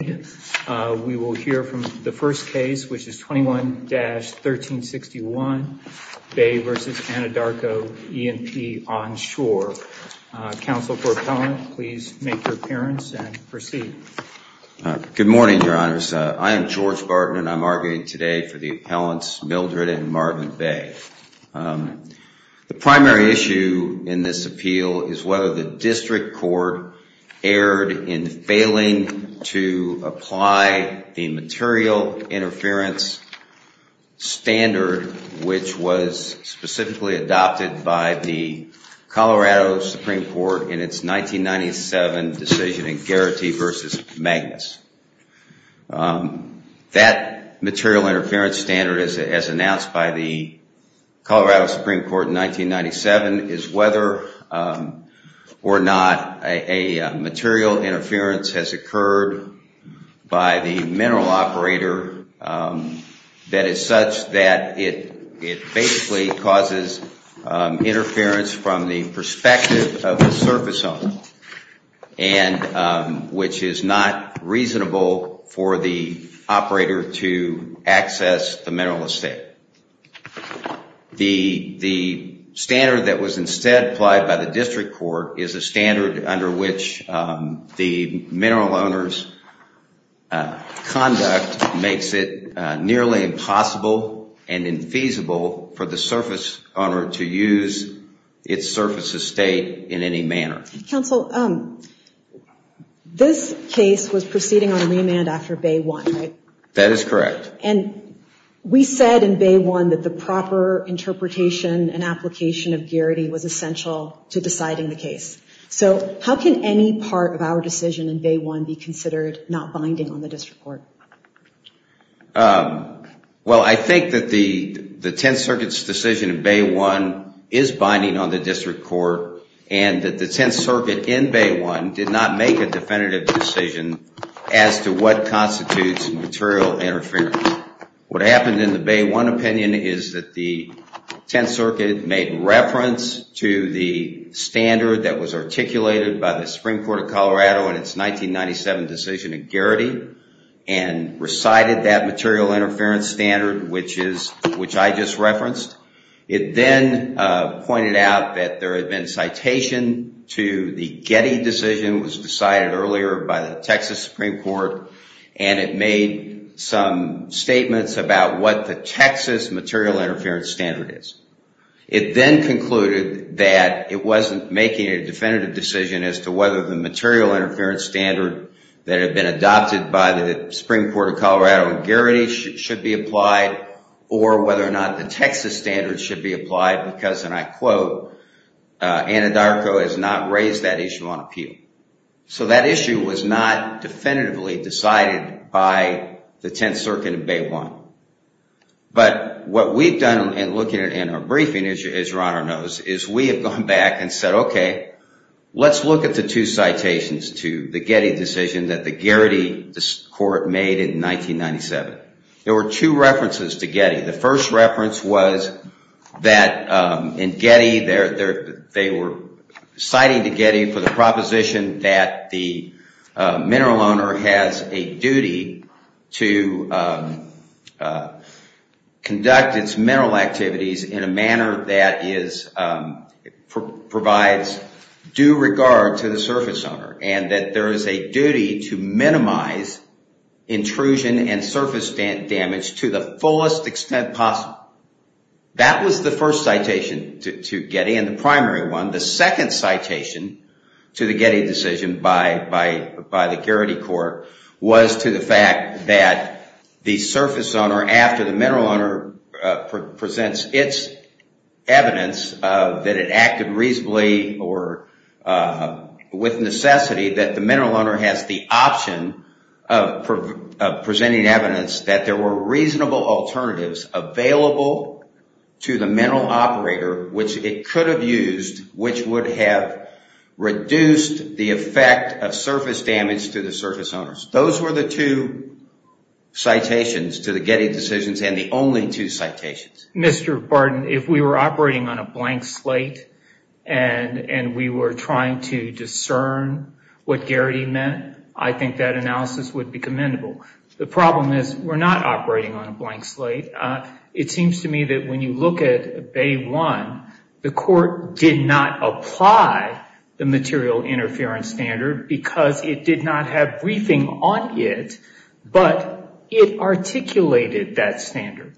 We will hear from the first case, which is 21-1361, Bay v. Anadarko E&P Onshore. Counsel for Appellant, please make your appearance and proceed. Good morning, Your Honors. I am George Barton, and I'm arguing today for the Appellants Mildred and Marvin Bay. The primary issue in this appeal is whether the District Court erred in failing to apply the material interference standard, which was specifically adopted by the Colorado Supreme Court in its 1997 decision in Geraghty v. Magnus. That material interference standard, as announced by the Colorado Supreme Court in 1997, is whether or not a material interference has occurred by the mineral operator that is such that it basically causes interference from the perspective of the surface zone, which is not reasonable for the operator to access the mineral estate. The standard that was instead applied by the District Court is a standard under which the mineral owner's conduct makes it nearly impossible and infeasible for the surface owner to use its surface estate in any manner. Counsel, this case was proceeding on remand after Bay 1, right? That is correct. And we said in Bay 1 that the proper interpretation and application of Geraghty was essential to deciding the case. So how can any part of our decision in Bay 1 be considered not binding on the District Court? Well, I think that the Tenth Circuit's decision in Bay 1 is binding on the District Court, and that the Tenth Circuit in Bay 1 did not make a definitive decision as to what constitutes material interference. What happened in the Bay 1 opinion is that the Tenth Circuit made reference to the standard that was articulated by the Supreme Court of Colorado in its 1997 decision in Geraghty and recited that material interference standard, which I just referenced. It then pointed out that there had been citation to the Getty decision that was decided earlier by the Texas Supreme Court, and it made some statements about what the Texas material interference standard is. It then concluded that it wasn't making a definitive decision as to whether the material interference standard that had been adopted by the Supreme Court of Colorado in Geraghty should be applied or whether or not the Texas standard should be applied because, and I quote, Anadarko has not raised that issue on appeal. So that issue was not definitively decided by the Tenth Circuit in Bay 1. But what we've done in looking at it in our briefing, as your Honor knows, is we have gone back and said, okay, let's look at the two citations to the Getty decision that the Geraghty court made in 1997. There were two references to Getty. The first reference was that in Getty, they were citing to Getty for the proposition that the mineral owner has a duty to conduct its mineral activities in a manner that provides due regard to the surface owner and that there is a duty to minimize intrusion and surface damage to the fullest extent possible. That was the first citation to Getty and the primary one. The second citation to the Getty decision by the Geraghty court was to the fact that the surface owner, after the mineral owner presents its evidence that it acted reasonably or with necessity, that the mineral owner has the option of presenting evidence that there were reasonable alternatives available to the mineral operator, which it could have used, which would have reduced the effect of surface damage to the surface owners. Those were the two citations to the Getty decisions and the only two citations. Mr. Barton, if we were operating on a blank slate and we were trying to discern what Geraghty meant, I think that analysis would be commendable. The problem is we're not operating on a blank slate. It seems to me that when you look at Bay 1, the court did not apply the material interference standard because it did not have briefing on it, but it articulated that standard.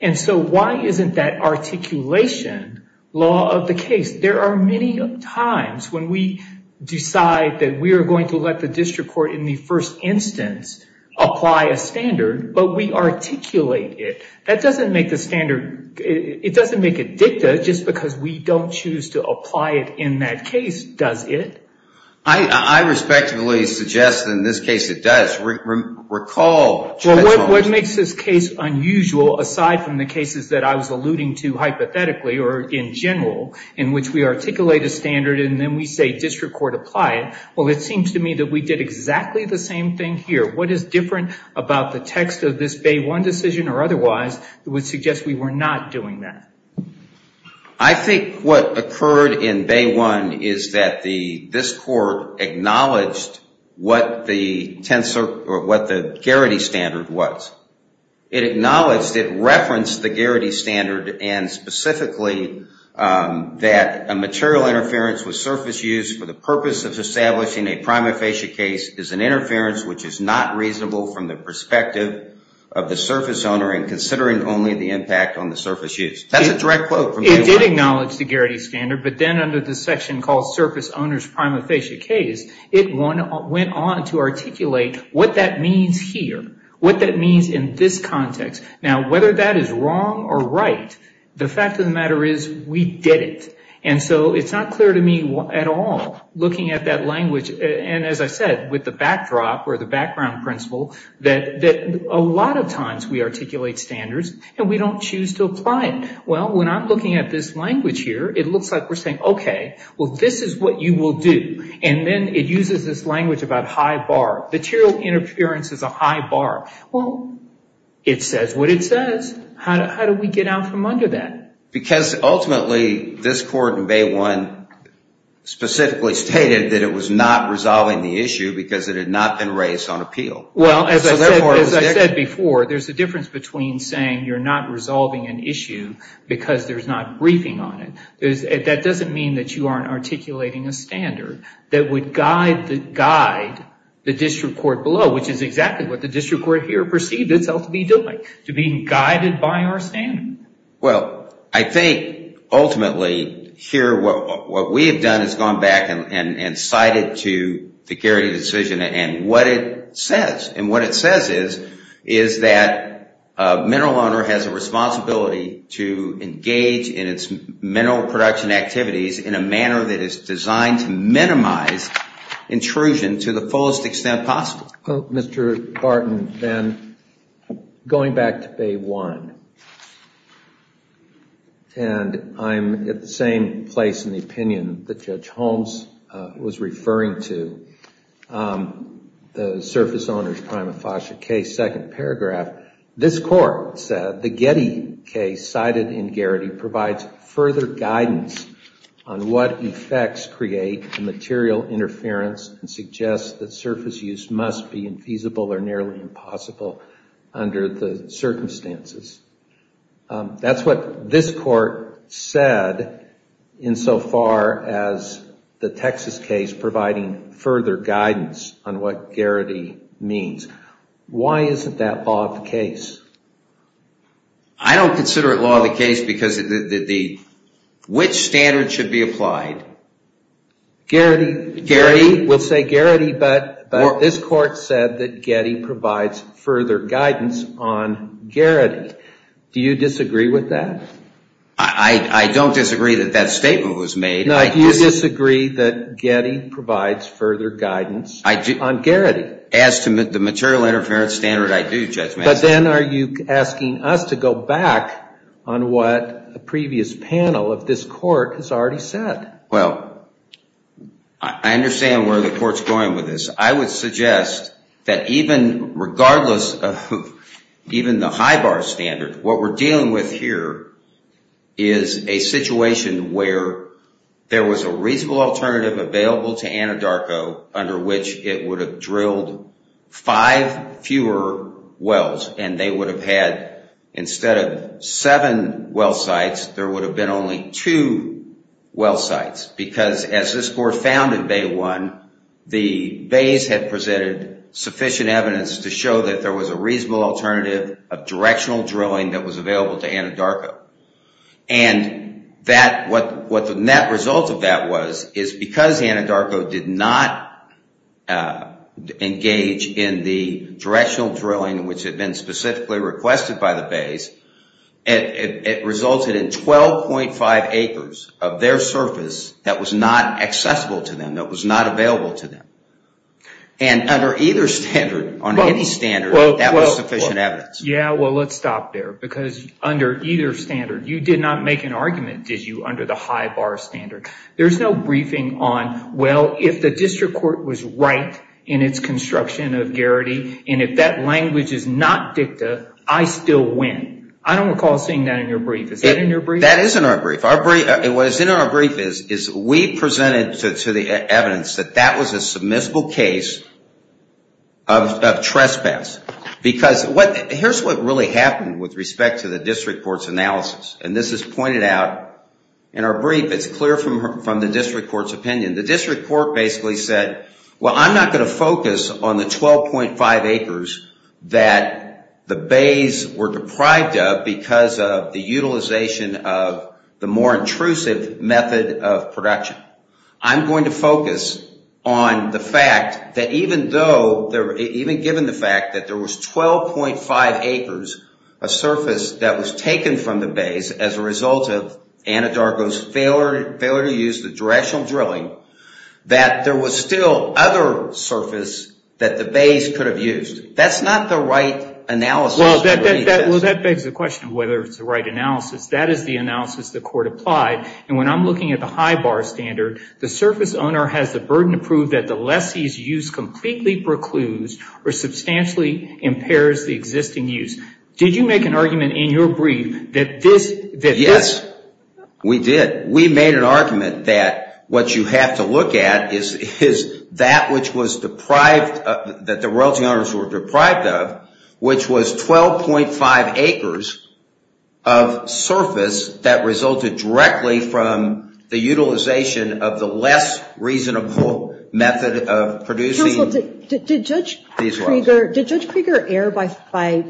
And so why isn't that articulation law of the case? There are many times when we decide that we are going to let the district court in the first instance apply a standard, but we articulate it. That doesn't make the standard, it doesn't make it dicta just because we don't choose to apply it in that case, does it? I respectfully suggest in this case it does. Recall Judge Holmes. Well, what makes this case unusual aside from the cases that I was alluding to hypothetically or in general in which we articulate a standard and then we say district court apply it? Well, it seems to me that we did exactly the same thing here. What is different about the text of this Bay 1 decision or otherwise that would suggest we were not doing that? I think what occurred in Bay 1 is that this court acknowledged what the Garrity standard was. It acknowledged it referenced the Garrity standard and specifically that a material interference with surface use for the purpose of establishing a prima facie case is an interference which is not reasonable from the perspective of the surface owner and considering only the impact on the surface use. That's a direct quote from Bay 1. It did acknowledge the Garrity standard, but then under the section called surface owner's prima facie case, it went on to articulate what that means here, what that means in this context. Now, whether that is wrong or right, the fact of the matter is we did it. And so it's not clear to me at all looking at that language, and as I said, with the backdrop or the background principle that a lot of times we articulate standards and we don't choose to apply it. Well, when I'm looking at this language here, it looks like we're saying, okay, well, this is what you will do. And then it uses this language about high bar. Material interference is a high bar. Well, it says what it says. How do we get out from under that? Because ultimately this court in Bay 1 specifically stated that it was not resolving the issue because it had not been raised on appeal. Well, as I said before, there's a difference between saying you're not resolving an issue because there's not briefing on it. That doesn't mean that you aren't articulating a standard that would guide the district court below, which is exactly what the district court here perceived itself to be doing, to being guided by our standard. Well, I think ultimately here what we have done is gone back and cited to the Gary decision. And what it says is that a mineral owner has a responsibility to engage in its mineral production activities in a manner that is designed to minimize intrusion to the fullest extent possible. Well, Mr. Barton, then, going back to Bay 1, and I'm at the same place in the opinion that Judge Holmes was referring to, the surface owner's prima facie case, second paragraph, this court said the Getty case cited in Garrity provides further guidance on what effects create material interference and suggests that surface use must be infeasible or nearly impossible under the circumstances. That's what this court said insofar as the Texas case providing further guidance on what Garrity means. Why isn't that law of the case? I don't consider it law of the case because which standard should be applied? Garrity. Garrity? We'll say Garrity, but this court said that Getty provides further guidance on Garrity. Do you disagree with that? I don't disagree that that statement was made. No, do you disagree that Getty provides further guidance on Garrity? As to the material interference standard, I do, Judge Mansfield. But then are you asking us to go back on what the previous panel of this court has already said? Well, I understand where the court's going with this. I would suggest that even regardless of even the high bar standard, what we're dealing with here is a situation where there was a reasonable alternative available to Anadarko under which it would have drilled five fewer wells, and they would have had, instead of seven well sites, there would have been only two well sites. Because as this court found in Bay 1, the bays had presented sufficient evidence to show that there was a reasonable alternative of directional drilling that was available to Anadarko. And what the net result of that was is because Anadarko did not engage in the directional drilling which had been specifically requested by the bays, it resulted in 12.5 acres of their surface that was not accessible to them, that was not available to them. And under either standard, on any standard, that was sufficient evidence. Yeah, well, let's stop there. Because under either standard, you did not make an argument, did you, under the high bar standard. There's no briefing on, well, if the district court was right in its construction of Garrity, and if that language is not dicta, I still win. I don't recall seeing that in your brief. Is that in your brief? That is in our brief. What is in our brief is we presented to the evidence that that was a submissible case of trespass. Because here's what really happened with respect to the district court's analysis. And this is pointed out in our brief. It's clear from the district court's opinion. The district court basically said, well, I'm not going to focus on the 12.5 acres that the bays were deprived of because of the utilization of the more intrusive method of production. I'm going to focus on the fact that even though, even given the fact that there was 12.5 acres, a surface that was taken from the bays as a result of Anadarko's failure to use the directional drilling, that there was still other surface that the bays could have used. That's not the right analysis. Well, that begs the question of whether it's the right analysis. That is the analysis the court applied. And when I'm looking at the high bar standard, the surface owner has the burden to prove that the lessee's use completely precludes or substantially impairs the existing use. Did you make an argument in your brief that this... Yes, we did. We made an argument that what you have to look at is that which was deprived, that the royalty owners were deprived of, which was 12.5 acres of surface that resulted directly from the utilization of the less reasonable method of producing... Counsel, did Judge Krieger err by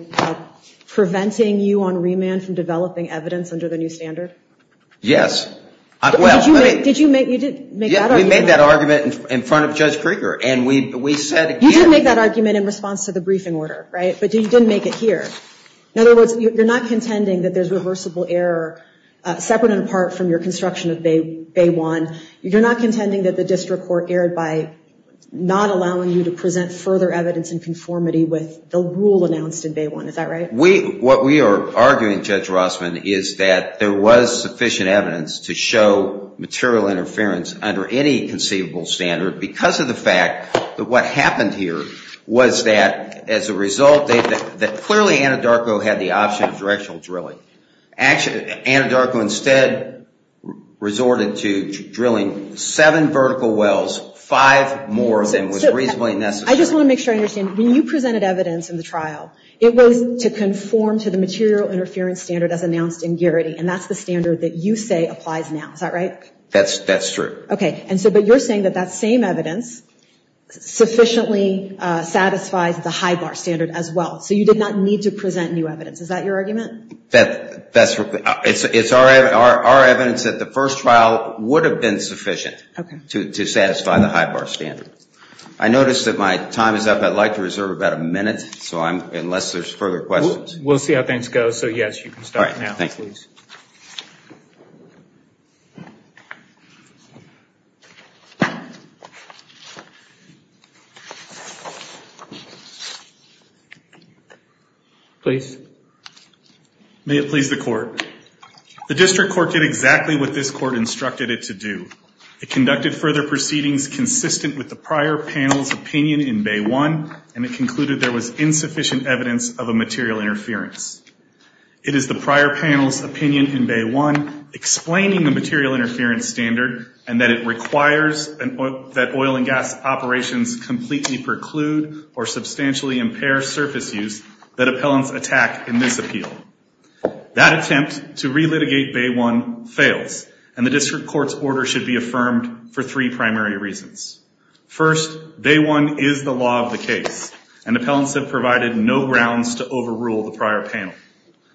preventing you on remand from developing evidence under the new standard? Yes. Did you make that argument? Yes, we made that argument in front of Judge Krieger, and we said again... You didn't make that argument in response to the briefing order, right? But you didn't make it here. In other words, you're not contending that there's reversible error, separate and apart from your construction of Bay 1. You're not contending that the district court erred by not allowing you to present further evidence in conformity with the rule announced in Bay 1. Is that right? What we are arguing, Judge Rossman, is that there was sufficient evidence to show material interference under any conceivable standard because of the fact that what happened here was that, as a result, that clearly Anadarko had the option of directional drilling. Anadarko instead resorted to drilling seven vertical wells, five more than was reasonably necessary. I just want to make sure I understand. When you presented evidence in the trial, it was to conform to the material interference standard as announced in Garrity, and that's the standard that you say applies now. Is that right? That's true. Okay. But you're saying that that same evidence sufficiently satisfies the HIGAR standard as well, so you did not need to present new evidence. Is that your argument? It's our evidence that the first trial would have been sufficient to satisfy the HIGAR standard. I notice that my time is up. I'd like to reserve about a minute, unless there's further questions. We'll see how things go. All right. Thank you. Please. Please. May it please the Court. The District Court did exactly what this Court instructed it to do. It conducted further proceedings consistent with the prior panel's opinion in Bay 1, and it concluded there was insufficient evidence of a material interference. It is the prior panel's opinion in Bay 1 explaining the material interference standard and that it requires that oil and gas operations completely preclude or substantially impair surface use that appellants attack in this appeal. That attempt to relitigate Bay 1 fails, and the District Court's order should be affirmed for three primary reasons. First, Bay 1 is the law of the case, and appellants have provided no grounds to overrule the prior panel.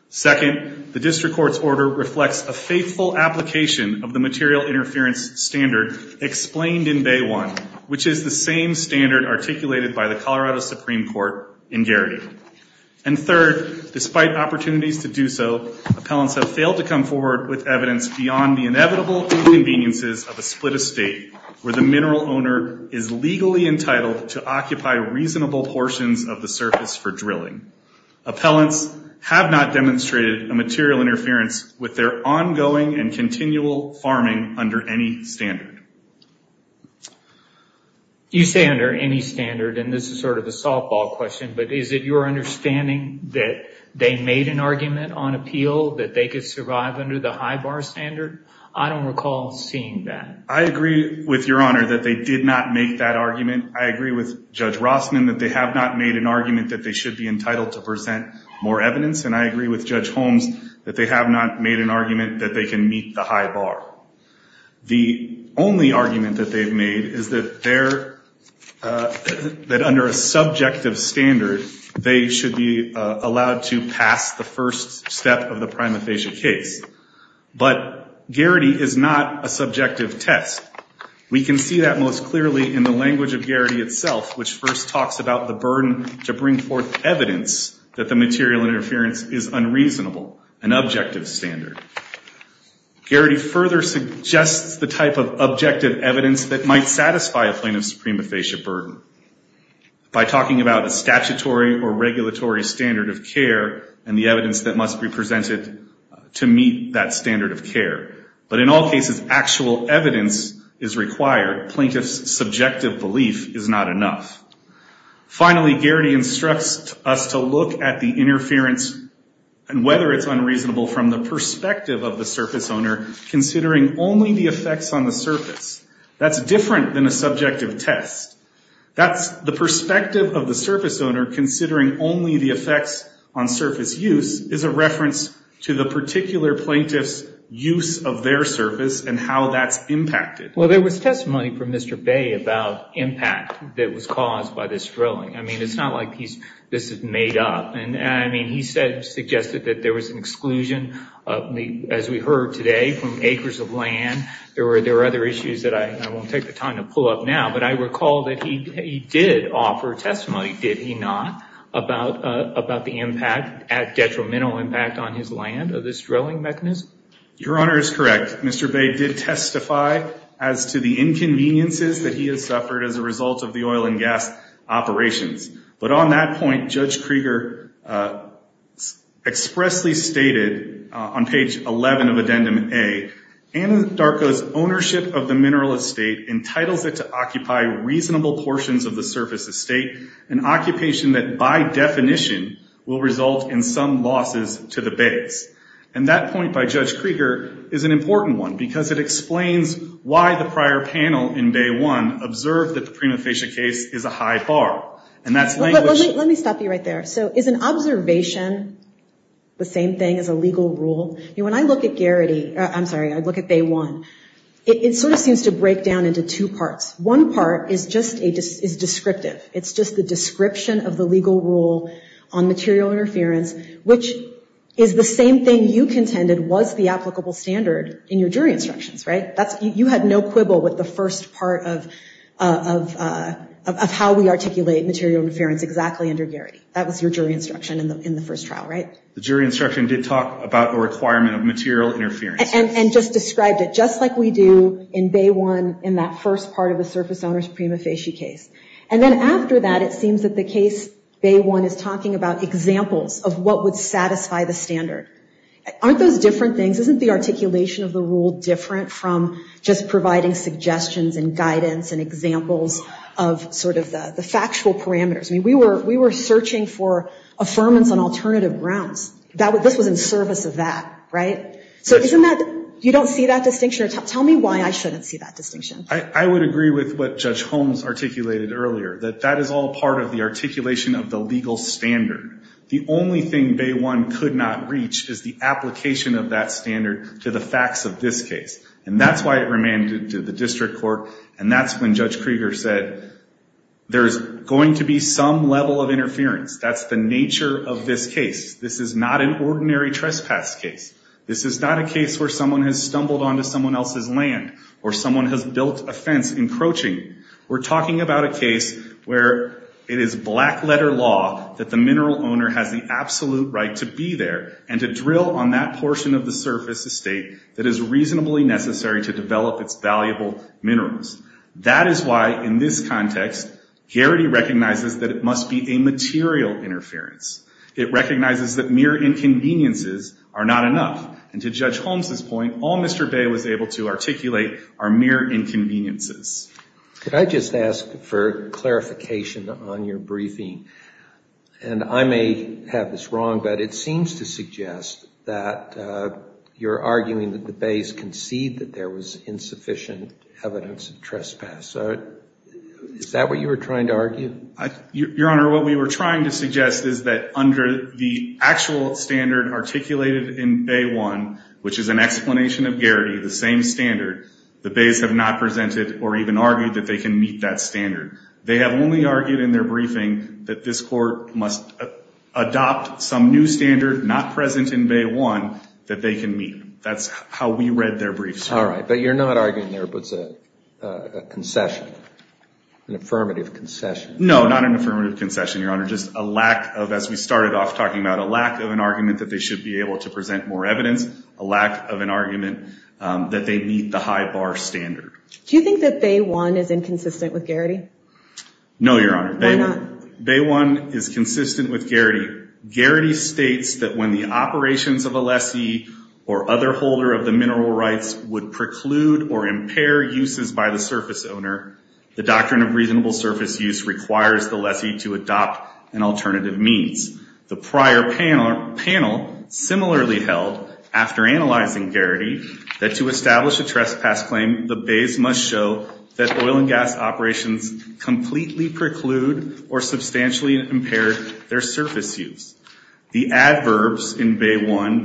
Second, the District Court's order reflects a faithful application of the material interference standard explained in Bay 1, which is the same standard articulated by the Colorado Supreme Court in Garrity. And third, despite opportunities to do so, appellants have failed to come forward with evidence beyond the inevitable inconveniences of a split estate where the mineral owner is legally entitled to occupy reasonable portions of the surface for drilling. Appellants have not demonstrated a material interference with their ongoing and continual farming under any standard. You say under any standard, and this is sort of a softball question, but is it your understanding that they made an argument on appeal that they could survive under the high bar standard? I don't recall seeing that. I agree with Your Honor that they did not make that argument. I agree with Judge Rossman that they have not made an argument that they should be entitled to present more evidence, and I agree with Judge Holmes that they have not made an argument that they can meet the high bar. The only argument that they've made is that under a subjective standard, they should be allowed to pass the first step of the prima facie case. But Geraghty is not a subjective test. We can see that most clearly in the language of Geraghty itself, which first talks about the burden to bring forth evidence that the material interference is unreasonable, an objective standard. Geraghty further suggests the type of objective evidence that might satisfy a plaintiff's prima facie burden by talking about a statutory or regulatory standard of care and the evidence that must be presented to meet that standard of care. But in all cases, actual evidence is required. Plaintiff's subjective belief is not enough. Finally, Geraghty instructs us to look at the interference and whether it's unreasonable from the perspective of the surface owner, considering only the effects on the surface. That's different than a subjective test. That's the perspective of the surface owner, considering only the effects on surface use, is a reference to the particular plaintiff's use of their surface and how that's impacted. Well, there was testimony from Mr. Bay about impact that was caused by this drilling. I mean, it's not like this is made up. I mean, he suggested that there was an exclusion, as we heard today, from acres of land. There were other issues that I won't take the time to pull up now, but I recall that he did offer testimony, did he not? About the impact, detrimental impact on his land of this drilling mechanism. Your Honor is correct. Mr. Bay did testify as to the inconveniences that he has suffered as a result of the oil and gas operations. But on that point, Judge Krieger expressly stated on page 11 of Addendum A, Anadarko's ownership of the mineral estate entitles it to occupy reasonable portions of the surface estate, an occupation that, by definition, will result in some losses to the bays. And that point by Judge Krieger is an important one because it explains why the prior panel in Bay 1 observed that the Prima Facie case is a high bar. And that's language. Let me stop you right there. So is an observation the same thing as a legal rule? You know, when I look at Garrity, I'm sorry, I look at Bay 1, it sort of seems to break down into two parts. One part is just descriptive. It's just the description of the legal rule on material interference, which is the same thing you contended was the applicable standard in your jury instructions, right? You had no quibble with the first part of how we articulate material interference exactly under Garrity. That was your jury instruction in the first trial, right? The jury instruction did talk about the requirement of material interference. And just described it just like we do in Bay 1 in that first part of the surface owner's Prima Facie case. And then after that, it seems that the case Bay 1 is talking about examples of what would satisfy the standard. Aren't those different things? Isn't the articulation of the rule different from just providing suggestions and guidance and examples of sort of the factual parameters? I mean, we were searching for affirmance on alternative grounds. This was in service of that, right? So you don't see that distinction? Tell me why I shouldn't see that distinction. I would agree with what Judge Holmes articulated earlier, that that is all part of the articulation of the legal standard. The only thing Bay 1 could not reach is the application of that standard to the facts of this case. And that's why it remained to the district court. And that's when Judge Krieger said, there's going to be some level of interference. That's the nature of this case. This is not an ordinary trespass case. This is not a case where someone has stumbled onto someone else's land or someone has built a fence encroaching. We're talking about a case where it is black-letter law that the mineral owner has the absolute right to be there and to drill on that portion of the surface estate that is reasonably necessary to develop its valuable minerals. That is why, in this context, Garrity recognizes that it must be a material interference. It recognizes that mere inconveniences are not enough. And to Judge Holmes' point, all Mr. Bay was able to articulate are mere inconveniences. Could I just ask for clarification on your briefing? And I may have this wrong, but it seems to suggest that you're arguing that the Bays concede that there was insufficient evidence of trespass. Is that what you were trying to argue? Your Honor, what we were trying to suggest is that under the actual standard articulated in Bay 1, which is an explanation of Garrity, the same standard, the Bays have not presented or even argued that they can meet that standard. They have only argued in their briefing that this Court must adopt some new standard not present in Bay 1 that they can meet. That's how we read their briefs. All right. But you're not arguing there was a concession, an affirmative concession. No, not an affirmative concession, Your Honor. Just a lack of, as we started off talking about, a lack of an argument that they should be able to present more evidence, a lack of an argument that they meet the high bar standard. Do you think that Bay 1 is inconsistent with Garrity? No, Your Honor. Why not? Bay 1 is consistent with Garrity. Garrity states that when the operations of a lessee or other holder of the mineral rights would preclude or impair uses by the surface owner, the doctrine of reasonable surface use requires the lessee to adopt an alternative means. The prior panel similarly held, after analyzing Garrity, that to establish a trespass claim, the Bays must show that oil and gas operations completely preclude or substantially impair their surface use. The adverbs completely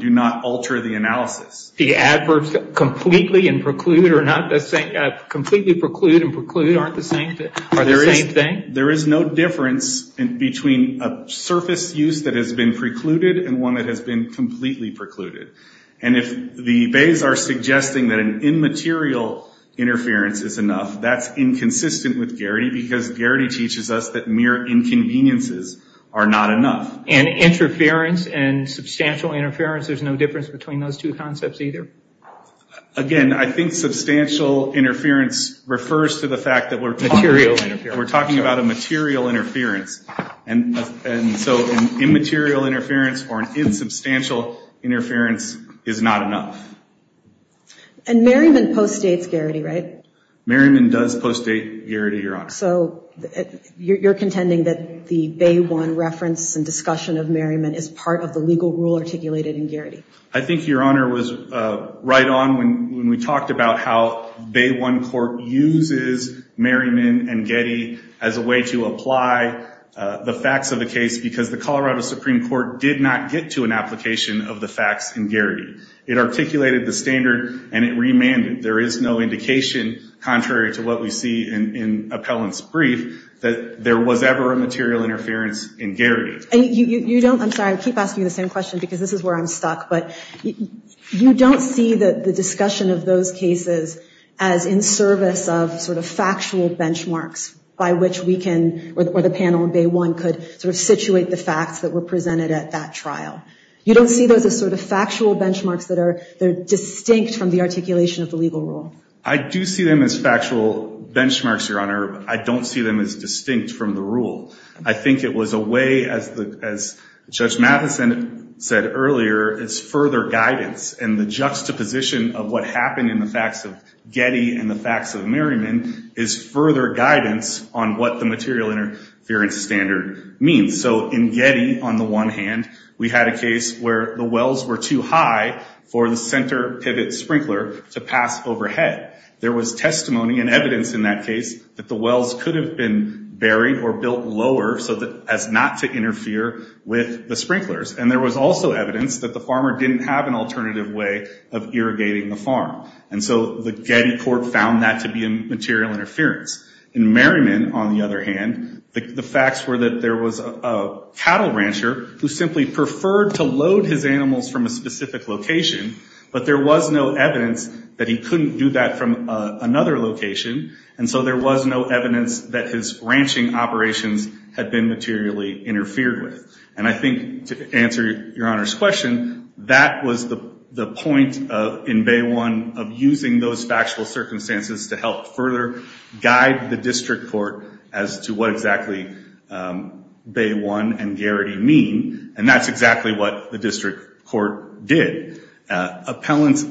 and preclude are not the same? Completely preclude and preclude aren't the same thing? There is no difference between a surface use that has been precluded and one that has been completely precluded. And if the Bays are suggesting that an immaterial interference is enough, that's inconsistent with Garrity because Garrity teaches us that mere inconveniences are not enough. And interference and substantial interference, there's no difference between those two concepts either? Again, I think substantial interference refers to the fact that we're talking about a material interference. And so an immaterial interference or an insubstantial interference is not enough. And Merriman postdates Garrity, right? Merriman does postdate Garrity, Your Honor. So you're contending that the Bay 1 reference and discussion of Merriman is part of the legal rule articulated in Garrity? I think, Your Honor, was right on when we talked about how Bay 1 court uses Merriman and Getty as a way to apply the facts of the case because the Colorado Supreme Court did not get to an application of the facts in Garrity. It articulated the standard and it remanded. There is no indication, contrary to what we see in Appellant's brief, that there was ever a material interference in Garrity. I'm sorry, I keep asking the same question because this is where I'm stuck. But you don't see the discussion of those cases as in service of sort of factual benchmarks by which we can or the panel in Bay 1 could sort of situate the facts that were presented at that trial. You don't see those as sort of factual benchmarks that are distinct from the articulation of the legal rule? I do see them as factual benchmarks, Your Honor. I don't see them as distinct from the rule. I think it was a way, as Judge Mathison said earlier, as further guidance and the juxtaposition of what happened in the facts of Getty and the facts of Merriman is further guidance on what the material interference standard means. So in Getty, on the one hand, we had a case where the wells were too high for the center pivot sprinkler to pass overhead. There was testimony and evidence in that case that the wells could have been buried or built lower as not to interfere with the sprinklers. And there was also evidence that the farmer didn't have an alternative way of irrigating the farm. And so the Getty court found that to be a material interference. In Merriman, on the other hand, the facts were that there was a cattle rancher who simply preferred to load his animals from a specific location, but there was no evidence that he couldn't do that from another location. And so there was no evidence that his ranching operations had been materially interfered with. And I think, to answer Your Honor's question, that was the point in Bay 1 of using those factual circumstances to help further guide the district court as to what exactly Bay 1 and Garrity mean. And that's exactly what the district court did. Appellant's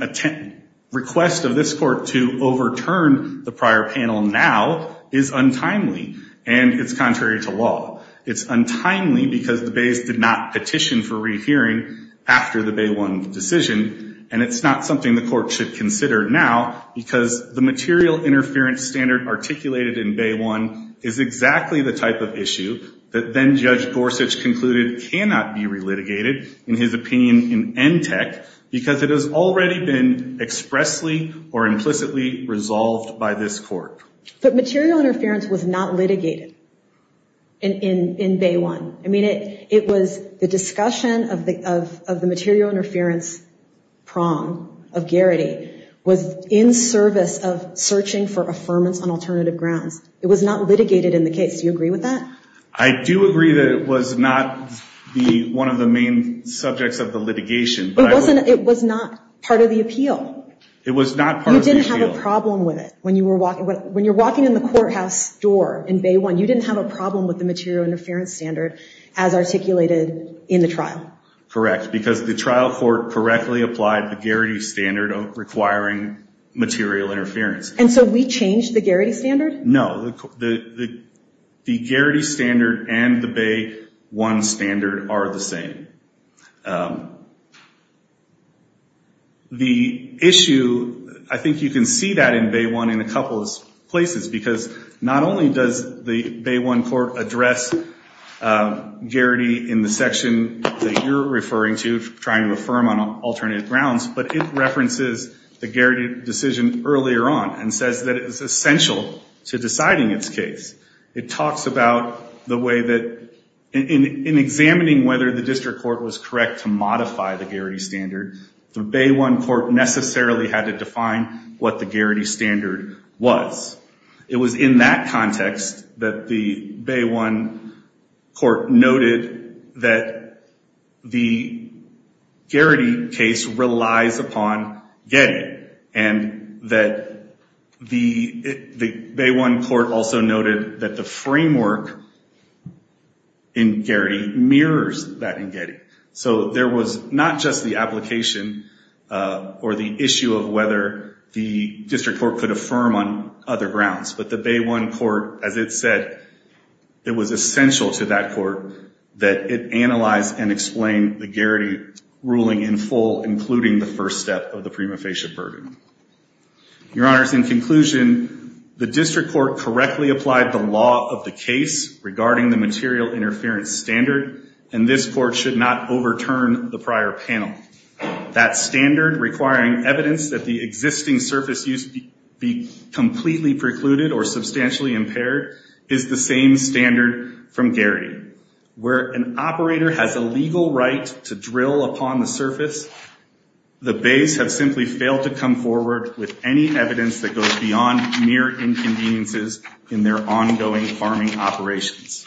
request of this court to overturn the prior panel now is untimely, and it's contrary to law. It's untimely because the bays did not petition for rehearing after the Bay 1 decision, and it's not something the court should consider now, because the material interference standard articulated in Bay 1 is exactly the type of issue that then-Judge Gorsuch concluded cannot be relitigated in his opinion in NTEC because it has already been expressly or implicitly resolved by this court. But material interference was not litigated in Bay 1. I mean, it was the discussion of the material interference prong of Garrity was in service of searching for affirmance on alternative grounds. It was not litigated in the case. Do you agree with that? I do agree that it was not one of the main subjects of the litigation. It was not part of the appeal. It was not part of the appeal. You didn't have a problem with it. When you're walking in the courthouse door in Bay 1, you didn't have a problem with the material interference standard as articulated in the trial. Correct, because the trial court correctly applied the Garrity standard requiring material interference. And so we changed the Garrity standard? No. The Garrity standard and the Bay 1 standard are the same. The issue, I think you can see that in Bay 1 in a couple of places, because not only does the Bay 1 court address Garrity in the section that you're referring to, trying to affirm on alternative grounds, but it references the Garrity decision earlier on and says that it was essential to deciding its case. It talks about the way that in examining whether the district court was correct to modify the Garrity standard, the Bay 1 court necessarily had to define what the Garrity standard was. It was in that context that the Bay 1 court noted that the Garrity case relies upon Getty and that the Bay 1 court also noted that the framework in Garrity mirrors that in Getty. So there was not just the application or the issue of whether the district court could affirm on other grounds, but the Bay 1 court, as it said, it was essential to that court that it analyze and explain the Garrity ruling in full, including the first step of the prima facie burden. Your Honors, in conclusion, the district court correctly applied the law of the case regarding the material interference standard, and this court should not overturn the prior panel. That standard requiring evidence that the existing surface use be completely precluded or substantially impaired is the same standard from Garrity. Where an operator has a legal right to drill upon the surface, the bays have simply failed to come forward with any evidence that goes beyond mere inconveniences in their ongoing farming operations.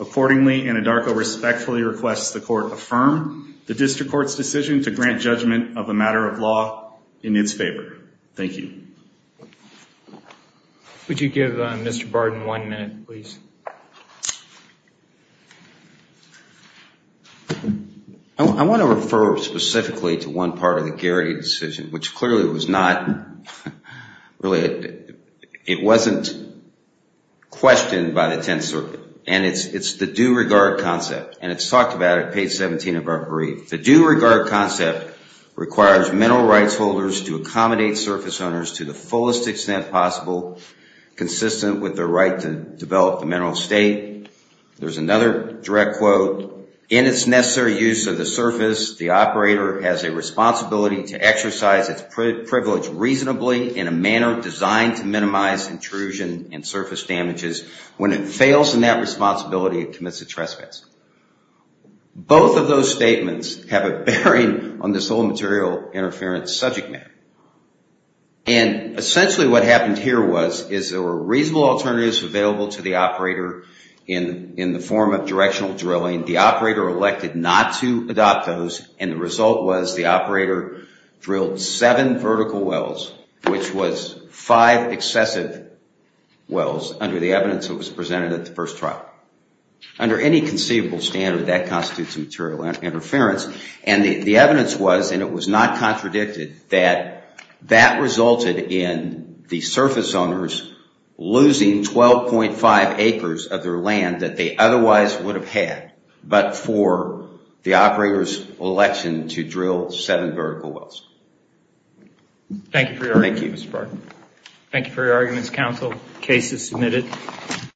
Accordingly, Anadarko respectfully requests the court affirm the district court's decision to grant judgment of a matter of law in its favor. Thank you. Would you give Mr. Barden one minute, please? I want to refer specifically to one part of the Garrity decision, which clearly was not really, it wasn't questioned by the Tenth Circuit, and it's the due regard concept, and it's talked about at page 17 of our brief. The due regard concept requires mineral rights holders to accommodate surface owners to the fullest extent possible, consistent with their right to develop the mineral state. There's another direct quote. In its necessary use of the surface, the operator has a responsibility to exercise its privilege reasonably in a manner designed to minimize intrusion and surface damages. When it fails in that responsibility, it commits a trespass. Both of those statements have a bearing on this whole material interference subject matter. And essentially what happened here was, is there were reasonable alternatives available to the operator in the form of directional drilling. The operator elected not to adopt those, and the result was the operator drilled seven vertical wells, which was five excessive wells under the evidence that was presented at the first trial. Under any conceivable standard, that constitutes a material interference. And the evidence was, and it was not contradicted, that that resulted in the surface owners losing 12.5 acres of their land that they otherwise would have had, but for the operator's election to drill seven vertical wells. Thank you for your argument. Thank you, Mr. Barton. Thank you for your arguments, counsel. The case is submitted.